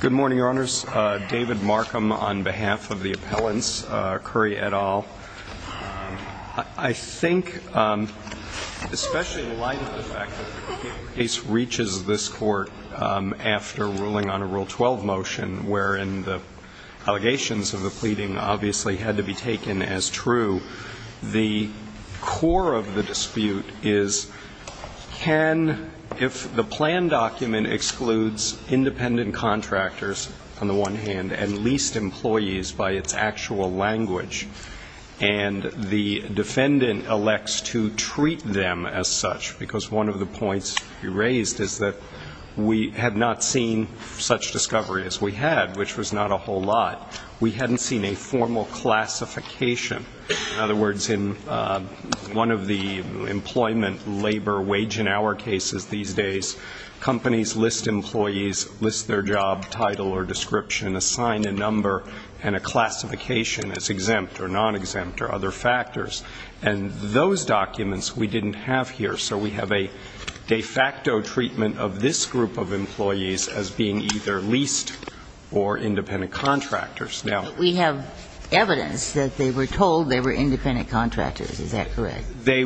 Good morning, Your Honors. David Markham on behalf of the appellants, Curry et al. I think, especially in light of the fact that the case reaches this Court after ruling on a Rule 12 motion wherein the allegations of the pleading obviously had to be taken as can, if the plan document excludes independent contractors, on the one hand, and leased employees by its actual language, and the defendant elects to treat them as such, because one of the points you raised is that we had not seen such discovery as we had, which was not a whole lot. We hadn't seen a formal classification. In other words, in one of the employment labor wage and hour cases these days, companies list employees, list their job title or description, assign a number and a classification as exempt or non-exempt or other factors. And those documents we didn't have here. So we have a de facto treatment of this group of employees as being either leased or independent contractors. Now we have evidence that they were told they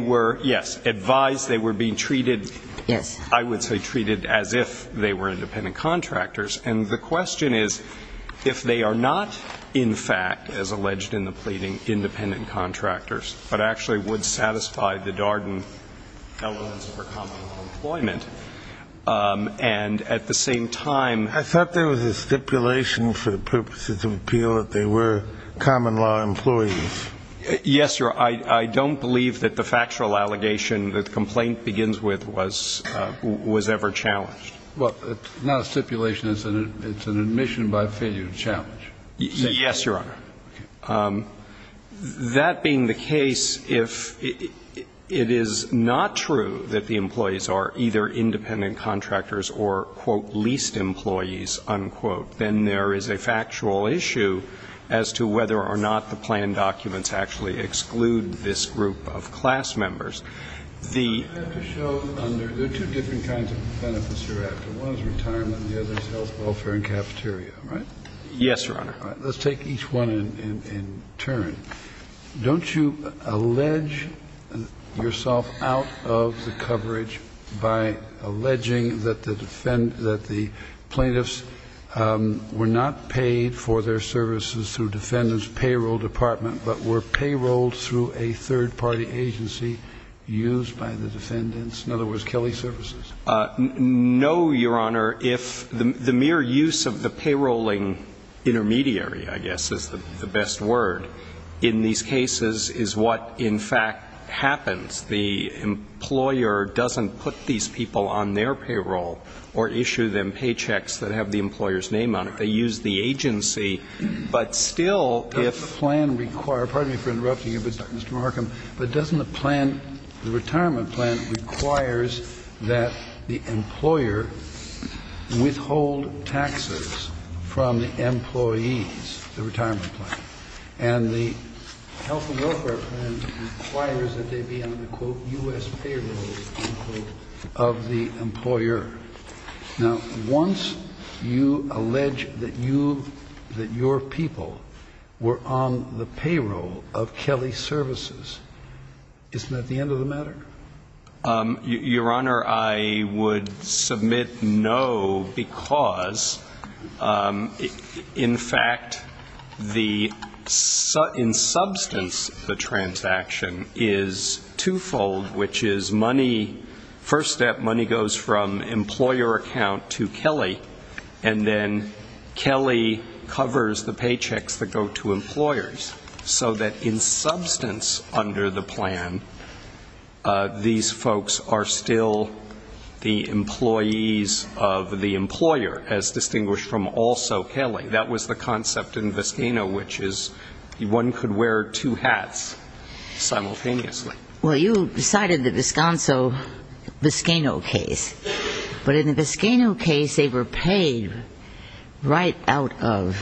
were, yes, advised they were being treated, I would say treated as if they were independent contractors. And the question is, if they are not, in fact, as alleged in the pleading, independent contractors, but actually would satisfy the Darden elements for common law employment, and at the same time ---- I thought there was a stipulation for the purposes of appeal that they were common law employees. Yes, Your Honor. I don't believe that the factual allegation that the complaint begins with was ever challenged. Well, it's not a stipulation. It's an admission by failure challenge. Yes, Your Honor. That being the case, if it is not true that the employees are either independent contractors or, quote, leased employees, unquote, then there is a factual issue as to whether or not the planned documents actually exclude this group of class members. The ---- I have to show under the two different kinds of benefits you're after. One is retirement and the other is health, welfare and cafeteria, right? Yes, Your Honor. All right. Let's take each one in turn. Don't you allege yourself out of the coverage by alleging that the plaintiffs were not paid for their services through Defendant's Payroll Department, but were payrolled through a third-party agency used by the defendants, in other words, Kelly Services? No, Your Honor. If the mere use of the payrolling intermediary, I guess, is the best word, in these cases is what, in fact, happens. The employer doesn't put these people on their payroll or issue them paychecks that have the employer's name on it. They use the agency. But still, if ---- Does the plan require ---- pardon me for interrupting you, Mr. Marcom, but doesn't the plan, the retirement plan, requires that the employer withhold taxes from the employees, the retirement plan? And the health and welfare plan requires that they be on the, quote, U.S. payroll, unquote, of the employer. Now, once you allege that you, that your people were on the payroll of Kelly Services, isn't that the end of the matter? Your Honor, I would submit no, because, in fact, the, in substance, the transaction is twofold, which is money, first step, money goes from employer account to Kelly, and then Kelly covers the paychecks that go to employers. So that in substance, under the plan, these folks are still the employees of the employer, as distinguished from also Kelly. That was the concept in Viscano, which is one could wear two hats simultaneously. Well, you cited the Visconso-Viscano case. But in the Viscano case, they were paid right out of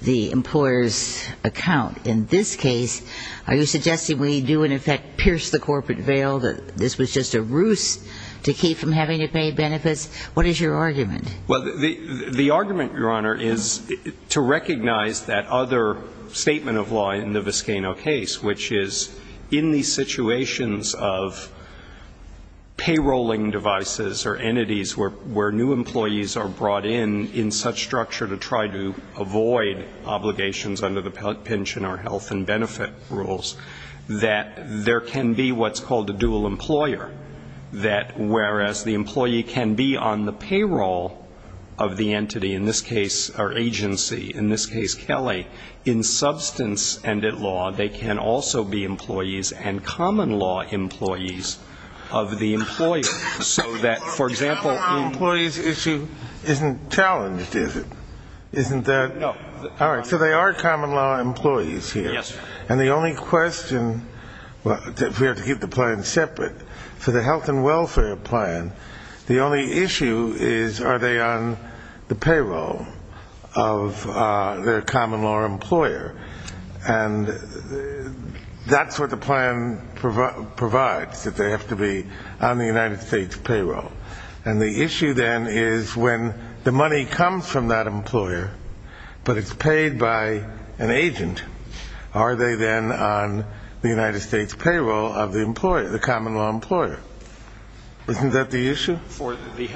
the employer's account. In this case, are you suggesting that the corporate veil, that this was just a ruse to keep from having to pay benefits? What is your argument? Well, the argument, Your Honor, is to recognize that other statement of law in the Viscano case, which is, in these situations of payrolling devices or entities where new employees are brought in, in such structure to try to avoid obligations under the pension or health and benefit rules, that there can be what's called a dual employer, that whereas the employee can be on the payroll of the entity, in this case, or agency, in this case, Kelly, in substance and at law, they can also be employees and common law employees of the employer. So that, for example, in the But the common law employees issue isn't challenged, is it? Isn't that No. All right. So they are common law employees here. Yes. And the only question, if we have to keep the plan separate, for the health and welfare plan, the only issue is, are they on the payroll of their common law employer? And that's what the plan provides, that they have to be on the United States payroll. And the issue, then, is when the money comes from that employer, but it's paid by an agent, are they then on the United States payroll of the employer, the common law employer? Isn't that the issue? For the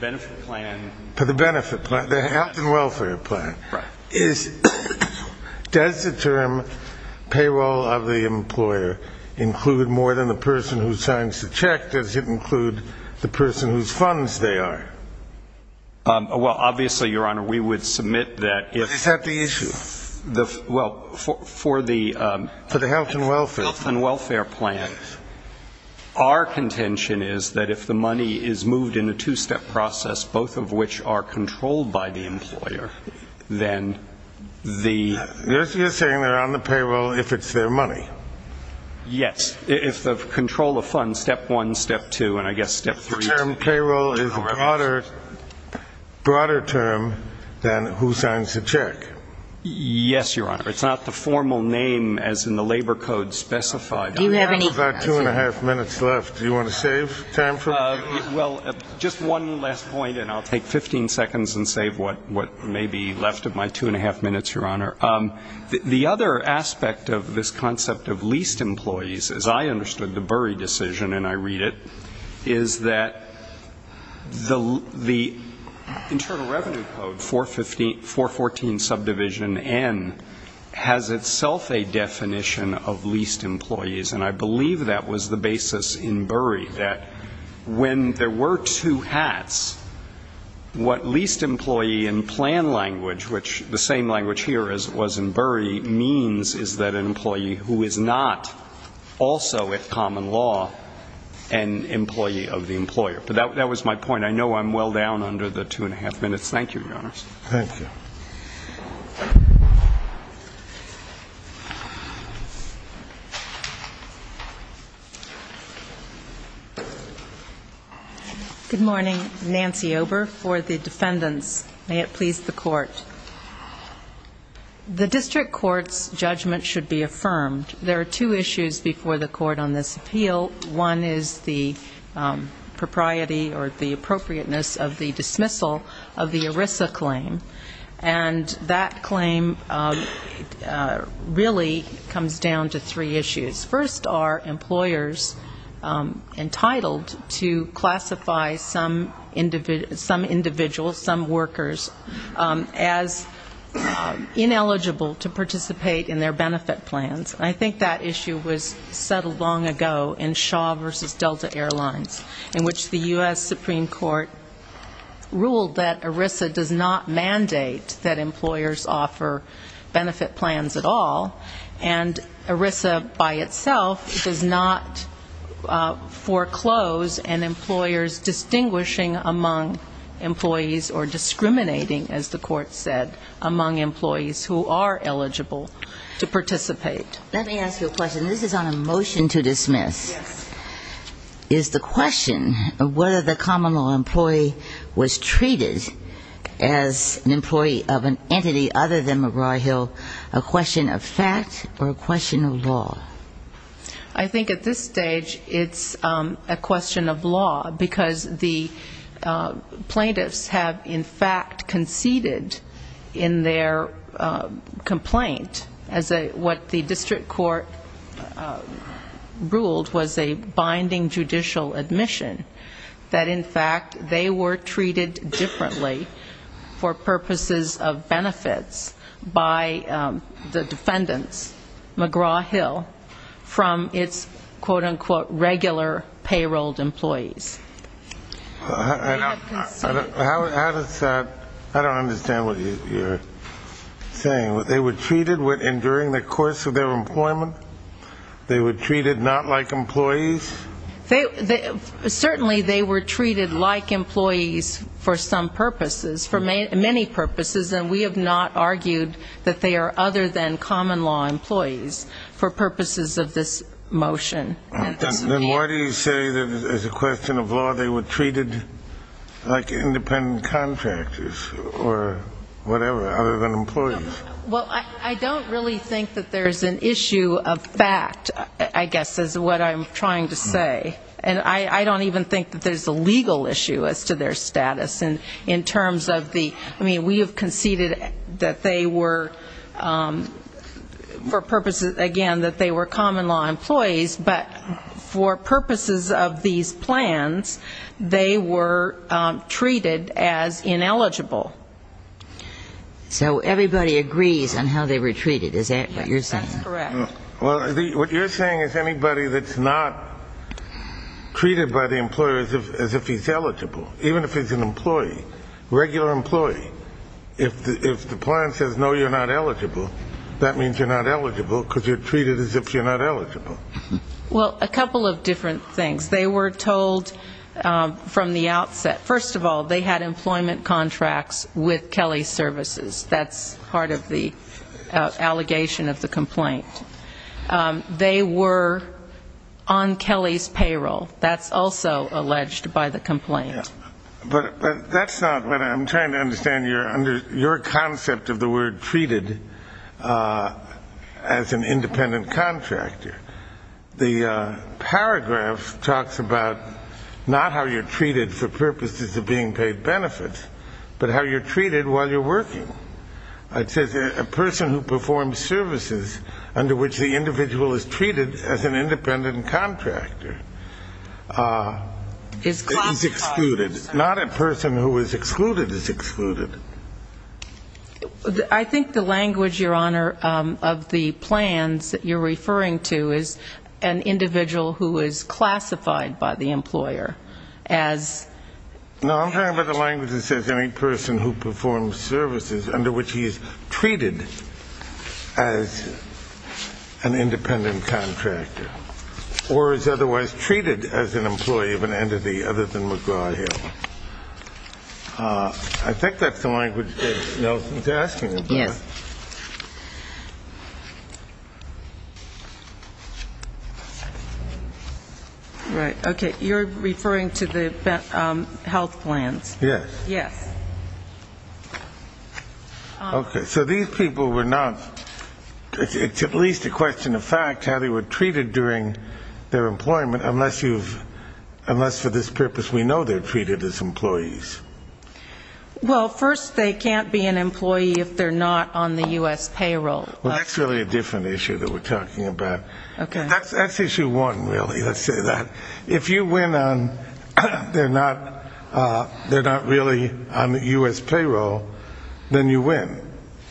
benefit plan For the benefit plan, the health and welfare plan. Right. Does the term payroll of the employer include more than the person who signs the check? Does it include the person whose funds they are? Well, obviously, Your Honor, we would submit that Is that the issue? Well, for the For the health and welfare Health and welfare plan, our contention is that if the money is moved in a two-step process, both of which are controlled by the employer, then the You're saying they're on the payroll if it's their money? Yes. If the control of funds, step one, step two, and I guess step three The term payroll is a broader term than who signs the check. Yes, Your Honor. It's not the formal name as in the labor code specified. Do you have any We've got two and a half minutes left. Do you want to save time for me? Well, just one last point, and I'll take 15 seconds and save what may be left of my two and a half minutes, Your Honor. The other aspect of this concept of leased employees, as I understood the Bury decision, and I read it, is that the Internal Revenue Code, 414 subdivision N, has itself a definition of leased employees, and I believe that was the basis in Bury, that when there were two hats, what leased employee in plan language, which the same language here as it was in Bury, means is that an employee who is not also, with common law, an employee of the employer. But that was my point. I know I'm well down under the two and a half minutes. Thank you, Your Honor. Thank you. Good morning. Nancy Ober for the defendants. May it please the court. The district court's judgment should be affirmed. There are two issues before the court on this appeal. One is the propriety or the appropriateness of the dismissal of the ERISA claim, and that claim is that the district court has really comes down to three issues. First, are employers entitled to classify some individuals, some workers, as ineligible to participate in their benefit plans? I think that issue was settled long ago in Shaw v. Delta Airlines, in which the U.S. Supreme Court ruled that ERISA does not mandate that employers offer benefit plans at all, and ERISA by itself does not foreclose an employer's distinguishing among employees or discriminating, as the court said, among employees who are eligible to participate. Let me ask you a question. This is on a motion to dismiss. Yes. Is the question of whether the common law employee was treated as an employee of an entity other than McGraw-Hill a question of fact or a question of law? I think at this stage it's a question of law, because the plaintiffs have in fact conceded in their complaint, as what the district court ruled was a binding judicial admission, that in fact they were treated differently for purposes of benefits by the defendants, McGraw-Hill, from its quote-unquote regular payrolled employees. I don't understand what you're saying. They were treated during the course of their employment? They were treated not like employees? Certainly they were treated like employees for some purposes, for many purposes and we have not argued that they are other than common law employees for purposes of this motion. Then why do you say that as a question of law they were treated like independent contractors or whatever, other than employees? Well, I don't really think that there's an issue of fact, I guess, is what I'm trying to say. And I don't even think that there's a legal issue as to their being treated that they were for purposes, again, that they were common law employees, but for purposes of these plans, they were treated as ineligible. So everybody agrees on how they were treated, is that what you're saying? That's correct. Well, what you're saying is anybody that's not treated by the employer as if he's eligible, even if he's an employee, regular employee, if the plan says no, you're not eligible, that means you're not eligible because you're treated as if you're not eligible. Well, a couple of different things. They were told from the outset, first of all, they had employment contracts with Kelly Services. That's part of the allegation of the complaint. They were on Kelly's payroll. That's also alleged by the complaint. But that's not what I'm trying to understand, your concept of the word treated as an independent contractor. The paragraph talks about not how you're treated for unpaid benefits, but how you're treated while you're working. It says a person who performs services under which the individual is treated as an independent contractor is excluded. Not a person who is excluded is excluded. I think the language, your Honor, of the plans that you're referring to is an independent contractor. I think that's the language that Nelson's asking about. Yes. Right. Okay. You're referring to the health plans. Yes. Okay. So these people were not, it's at least a question of fact how they were treated during their employment, unless for this purpose we know they're treated as employees. Well, first they can't be an employee if they're not on the U.S. payroll. Well, that's really a different issue that we're talking about. That's issue one, really, let's say that. If you win on they're not really on the U.S. payroll, then you win.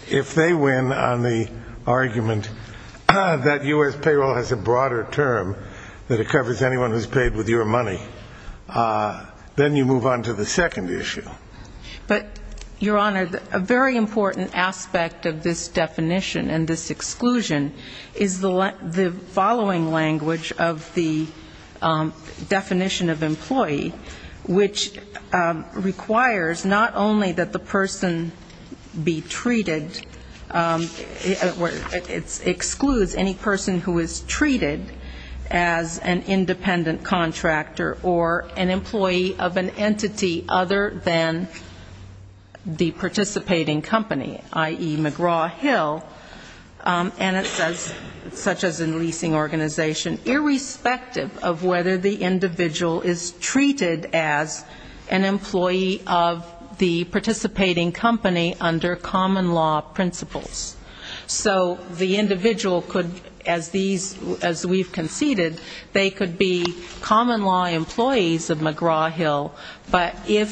If they win on the argument that U.S. payroll has a broader term that it covers anyone who's paid with your money, then you move on to the second issue. But, your Honor, a very important aspect of this definition and this exclusion is the following language of the definition of employee, which requires not only that the person be treated, it excludes any person who is treated as an independent contractor or an employee of an entity other than the participating company, i.e., McGraw-Hill, and it says, such as in leasing organization, irrespective of whether the individual is treated as an employee of the participating company under common law principles. So the individual could, as these, as we've conceded, they could be an employee of the common law employees of McGraw-Hill, but if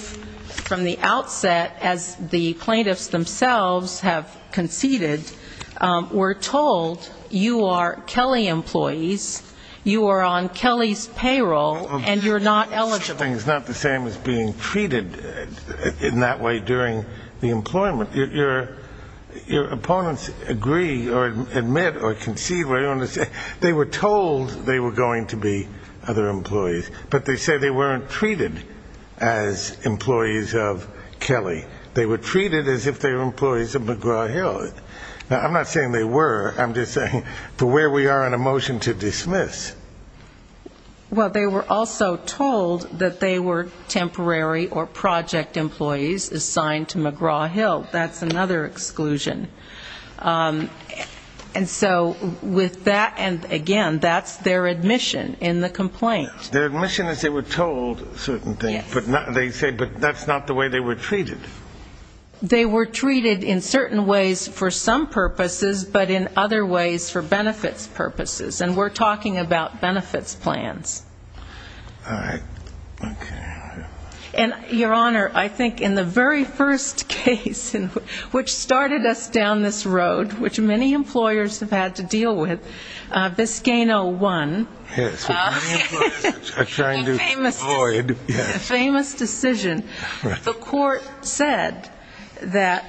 from the outset, as the plaintiffs themselves have conceded, we're told you are Kelley employees, you are on Kelley's payroll, and you're not eligible. The whole thing is not the same as being treated in that way during the employment. Your opponents agree or admit or concede, they were told they were going to be other employees. But they say they weren't treated as employees of Kelley. They were treated as if they were employees of McGraw-Hill. Now, I'm not saying they were, I'm just saying for where we are on a motion to dismiss. Well, they were also told that they were temporary or project employees assigned to McGraw-Hill. That's another exclusion. And so with that, and again, that's their admission in the complaint. Their admission is they were told certain things, but they say that's not the way they were treated. They were treated in certain ways for some purposes, but in other ways for benefits purposes. And we're talking about benefits plans. And, Your Honor, I think in the very first case, which started us down this road, which many employers have had to deal with, Vizcano won. The famous decision. The court said that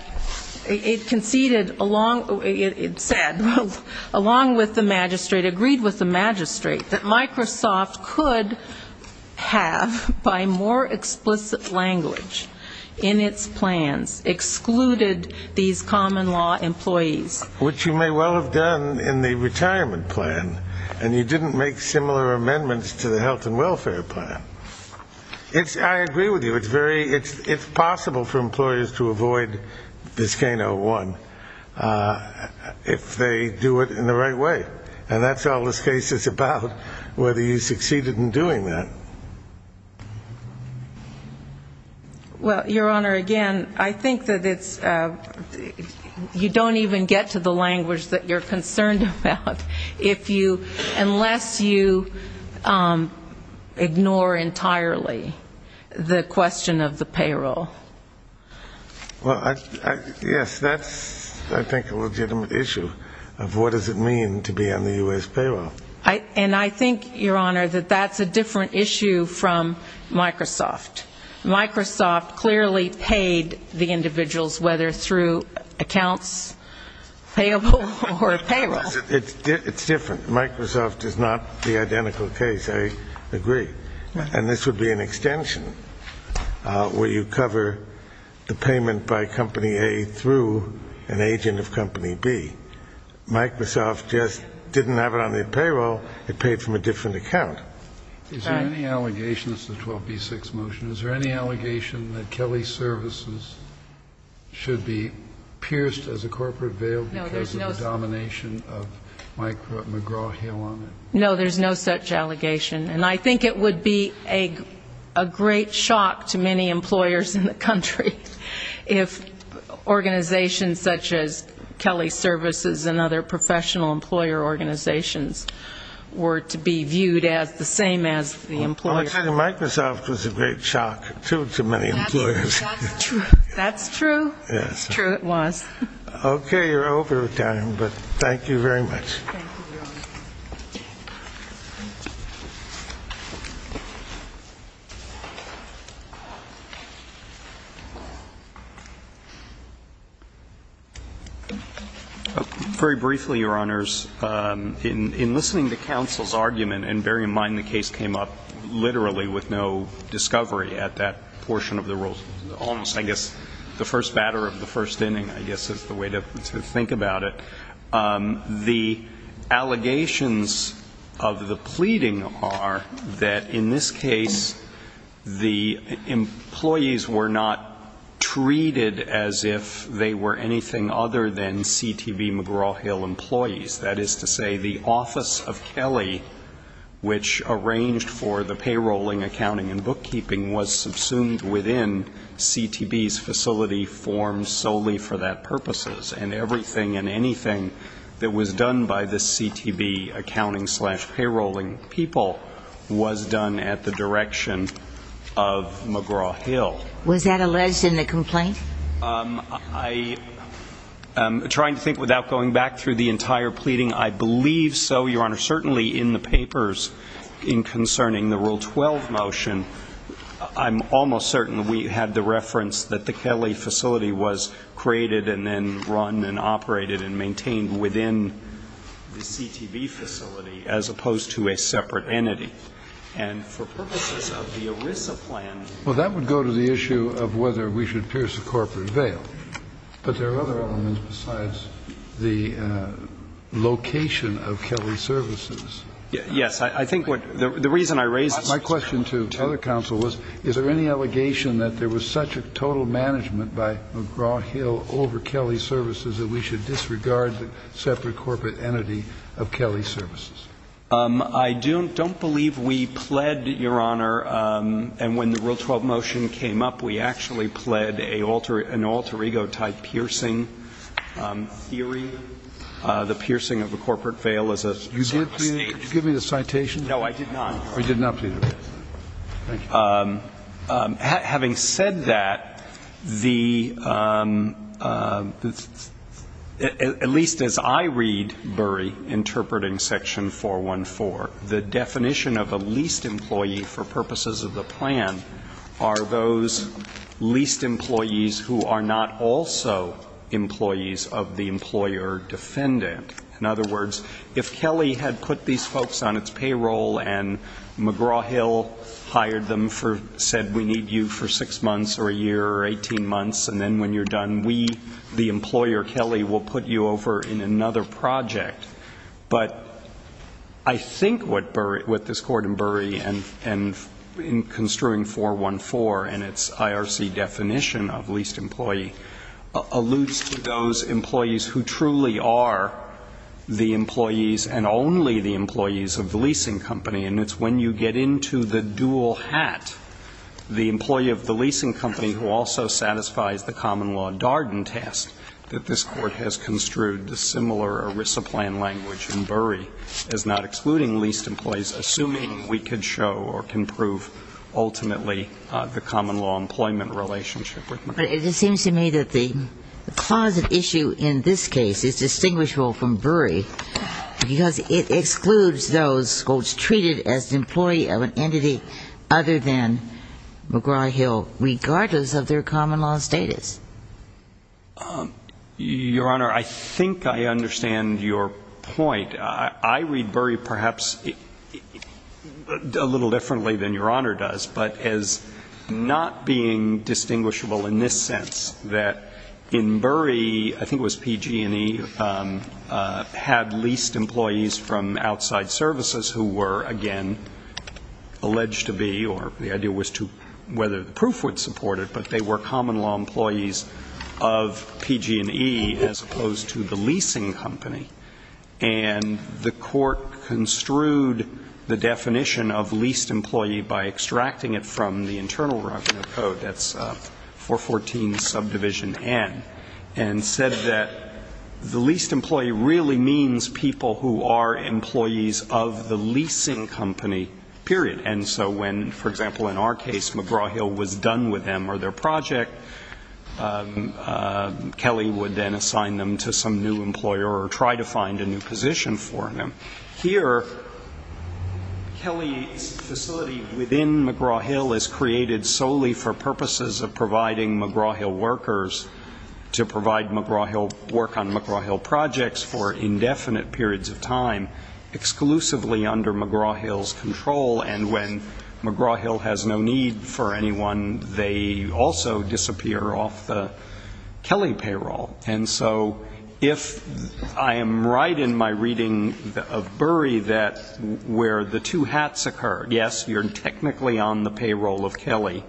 it conceded along, it said, along with the magistrate, agreed with the magistrate, that Microsoft did not have to deal with Vizcano. It could have, by more explicit language in its plans, excluded these common law employees. Which you may well have done in the retirement plan, and you didn't make similar amendments to the health and welfare plan. I agree with you. It's possible for employers to avoid Vizcano 1 if they do it in the right way. And that's all this case is about, whether you succeeded in doing that. Well, Your Honor, again, I think that it's, you don't even get to the language that you're concerned about if you, unless you ignore entirely the question of the payroll. Well, yes, that's, I think, a legitimate issue of what does it mean to be on the U.S. payroll. And I think, Your Honor, that that's a different issue from Microsoft. Microsoft clearly paid the individuals, whether through accounts payable or payroll. It's different. Microsoft is not the identical case, I agree. And this would be an extension where you cover the payment by Company A through an agent of Company B. Microsoft just didn't have it on their payroll, it paid from a different account. Is there any allegation, this is a 12B6 motion, is there any allegation that Kelly Services should be pierced as a corporate veil because of the domination of McGraw? No, there's no such allegation. And I think it would be a great shock to many employers in the country if organizations such as Kelly Services and other professional employer organizations were to be viewed as the same as the employers. I would say Microsoft was a great shock, too, to many employers. That's true. Okay, you're over time, but thank you very much. Very briefly, Your Honors, in listening to counsel's argument, and bear in mind the case came up literally with no discovery at that portion of the rule. Almost, I guess, the first batter of the first inning, I guess, is the way to think about it. The allegations of the pleading are that, in this case, the employees were not treated as if they were anything other than CTV McGraw-Hill employees. That is to say, the office of Kelly, which arranged for the payroll and accounting and bookkeeping, was subsumed within the office of Kelly. And CTV's facility formed solely for that purposes. And everything and anything that was done by the CTV accounting-slash-payrolling people was done at the direction of McGraw-Hill. Was that alleged in the complaint? I'm trying to think without going back through the entire pleading. I believe so, Your Honor. Certainly in the papers in concerning the Rule 12 motion, I'm almost certain we had the reference that the Kelly facility was created and then run and operated and maintained within the CTV facility as opposed to a separate entity. And for purposes of the ERISA plan ---- Well, that would go to the issue of whether we should pierce a corporate veil. But there are other elements besides the location of Kelly Services. Yes. I think what the reason I raised this---- My question to other counsel was, is there any allegation that there was such a total management by McGraw-Hill over Kelly Services that we should disregard the separate corporate entity of Kelly Services? I don't believe we pled, Your Honor, and when the Rule 12 motion came up, we actually pled an alter ego-type piercing theory, the piercing of a corporate veil as a stage. You did plead it? Did you give me the citation? No, I did not, Your Honor. I did not plead it. Thank you. Having said that, the ---- at least as I read Burry interpreting Section 414, the definition of a leased employee for purposes of the plan are those leased employees who are not also employees of the employer defendant. In other words, if Kelly had put these folks on its payroll and McGraw-Hill hired them for, said we need you for six months or a year or 18 months, and then when you're done, we, the employer, Kelly, will put you over in another project. But I think what Burry ---- what this Court in Burry and in construing 414 and its IRC definition of leased employee alludes to those employees who truly are the employees and only the employees of the leasing company, and it's when you get into the dual hat, the employee of the leasing company who also satisfies the common law Darden test that this Court has construed a similar ERISA plan language in Burry as not excluding leased employees, assuming we could show or can prove ultimately the common law employment relationship with McGraw-Hill. But it seems to me that the cause of issue in this case is distinguishable from Burry because it excludes those folks treated as an employee of an entity other than McGraw-Hill. And I think that's the case. Your Honor, I think I understand your point. I read Burry perhaps a little differently than Your Honor does, but as not being distinguishable in this sense, that in Burry, I think it was PG&E, had leased employees from outside services who were, again, alleged to be or the idea was to whether the proof would support it, but they were employees of PG&E as opposed to the leasing company. And the Court construed the definition of leased employee by extracting it from the Internal Revenue Code, that's 414 subdivision N, and said that the leased employee really means people who are employees of the leasing company, period. And so when, for example, in our case, McGraw-Hill was done with them or their project, Kelly would then assign them to some new employer or try to find a new position for them. Here, Kelly's facility within McGraw-Hill is created solely for purposes of providing McGraw-Hill workers to provide McGraw-Hill, work on McGraw-Hill projects for indefinite periods of time exclusively under McGraw-Hill's control. And when McGraw-Hill has no need for anyone, they also disappear off the Kelly payroll. And so if I am right in my reading of Burry that where the two hats occurred, yes, you're technically on the payroll of Kelly.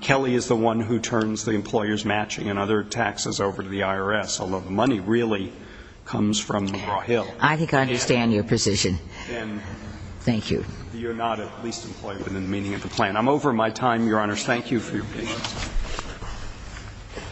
Kelly is the one who turns the employers' matching and other taxes over to the IRS, although the money really comes from McGraw-Hill. And then you're not at least employed within the meaning of the plan. I think I understand your position. Thank you. I'm over my time, Your Honors. Thank you for your patience.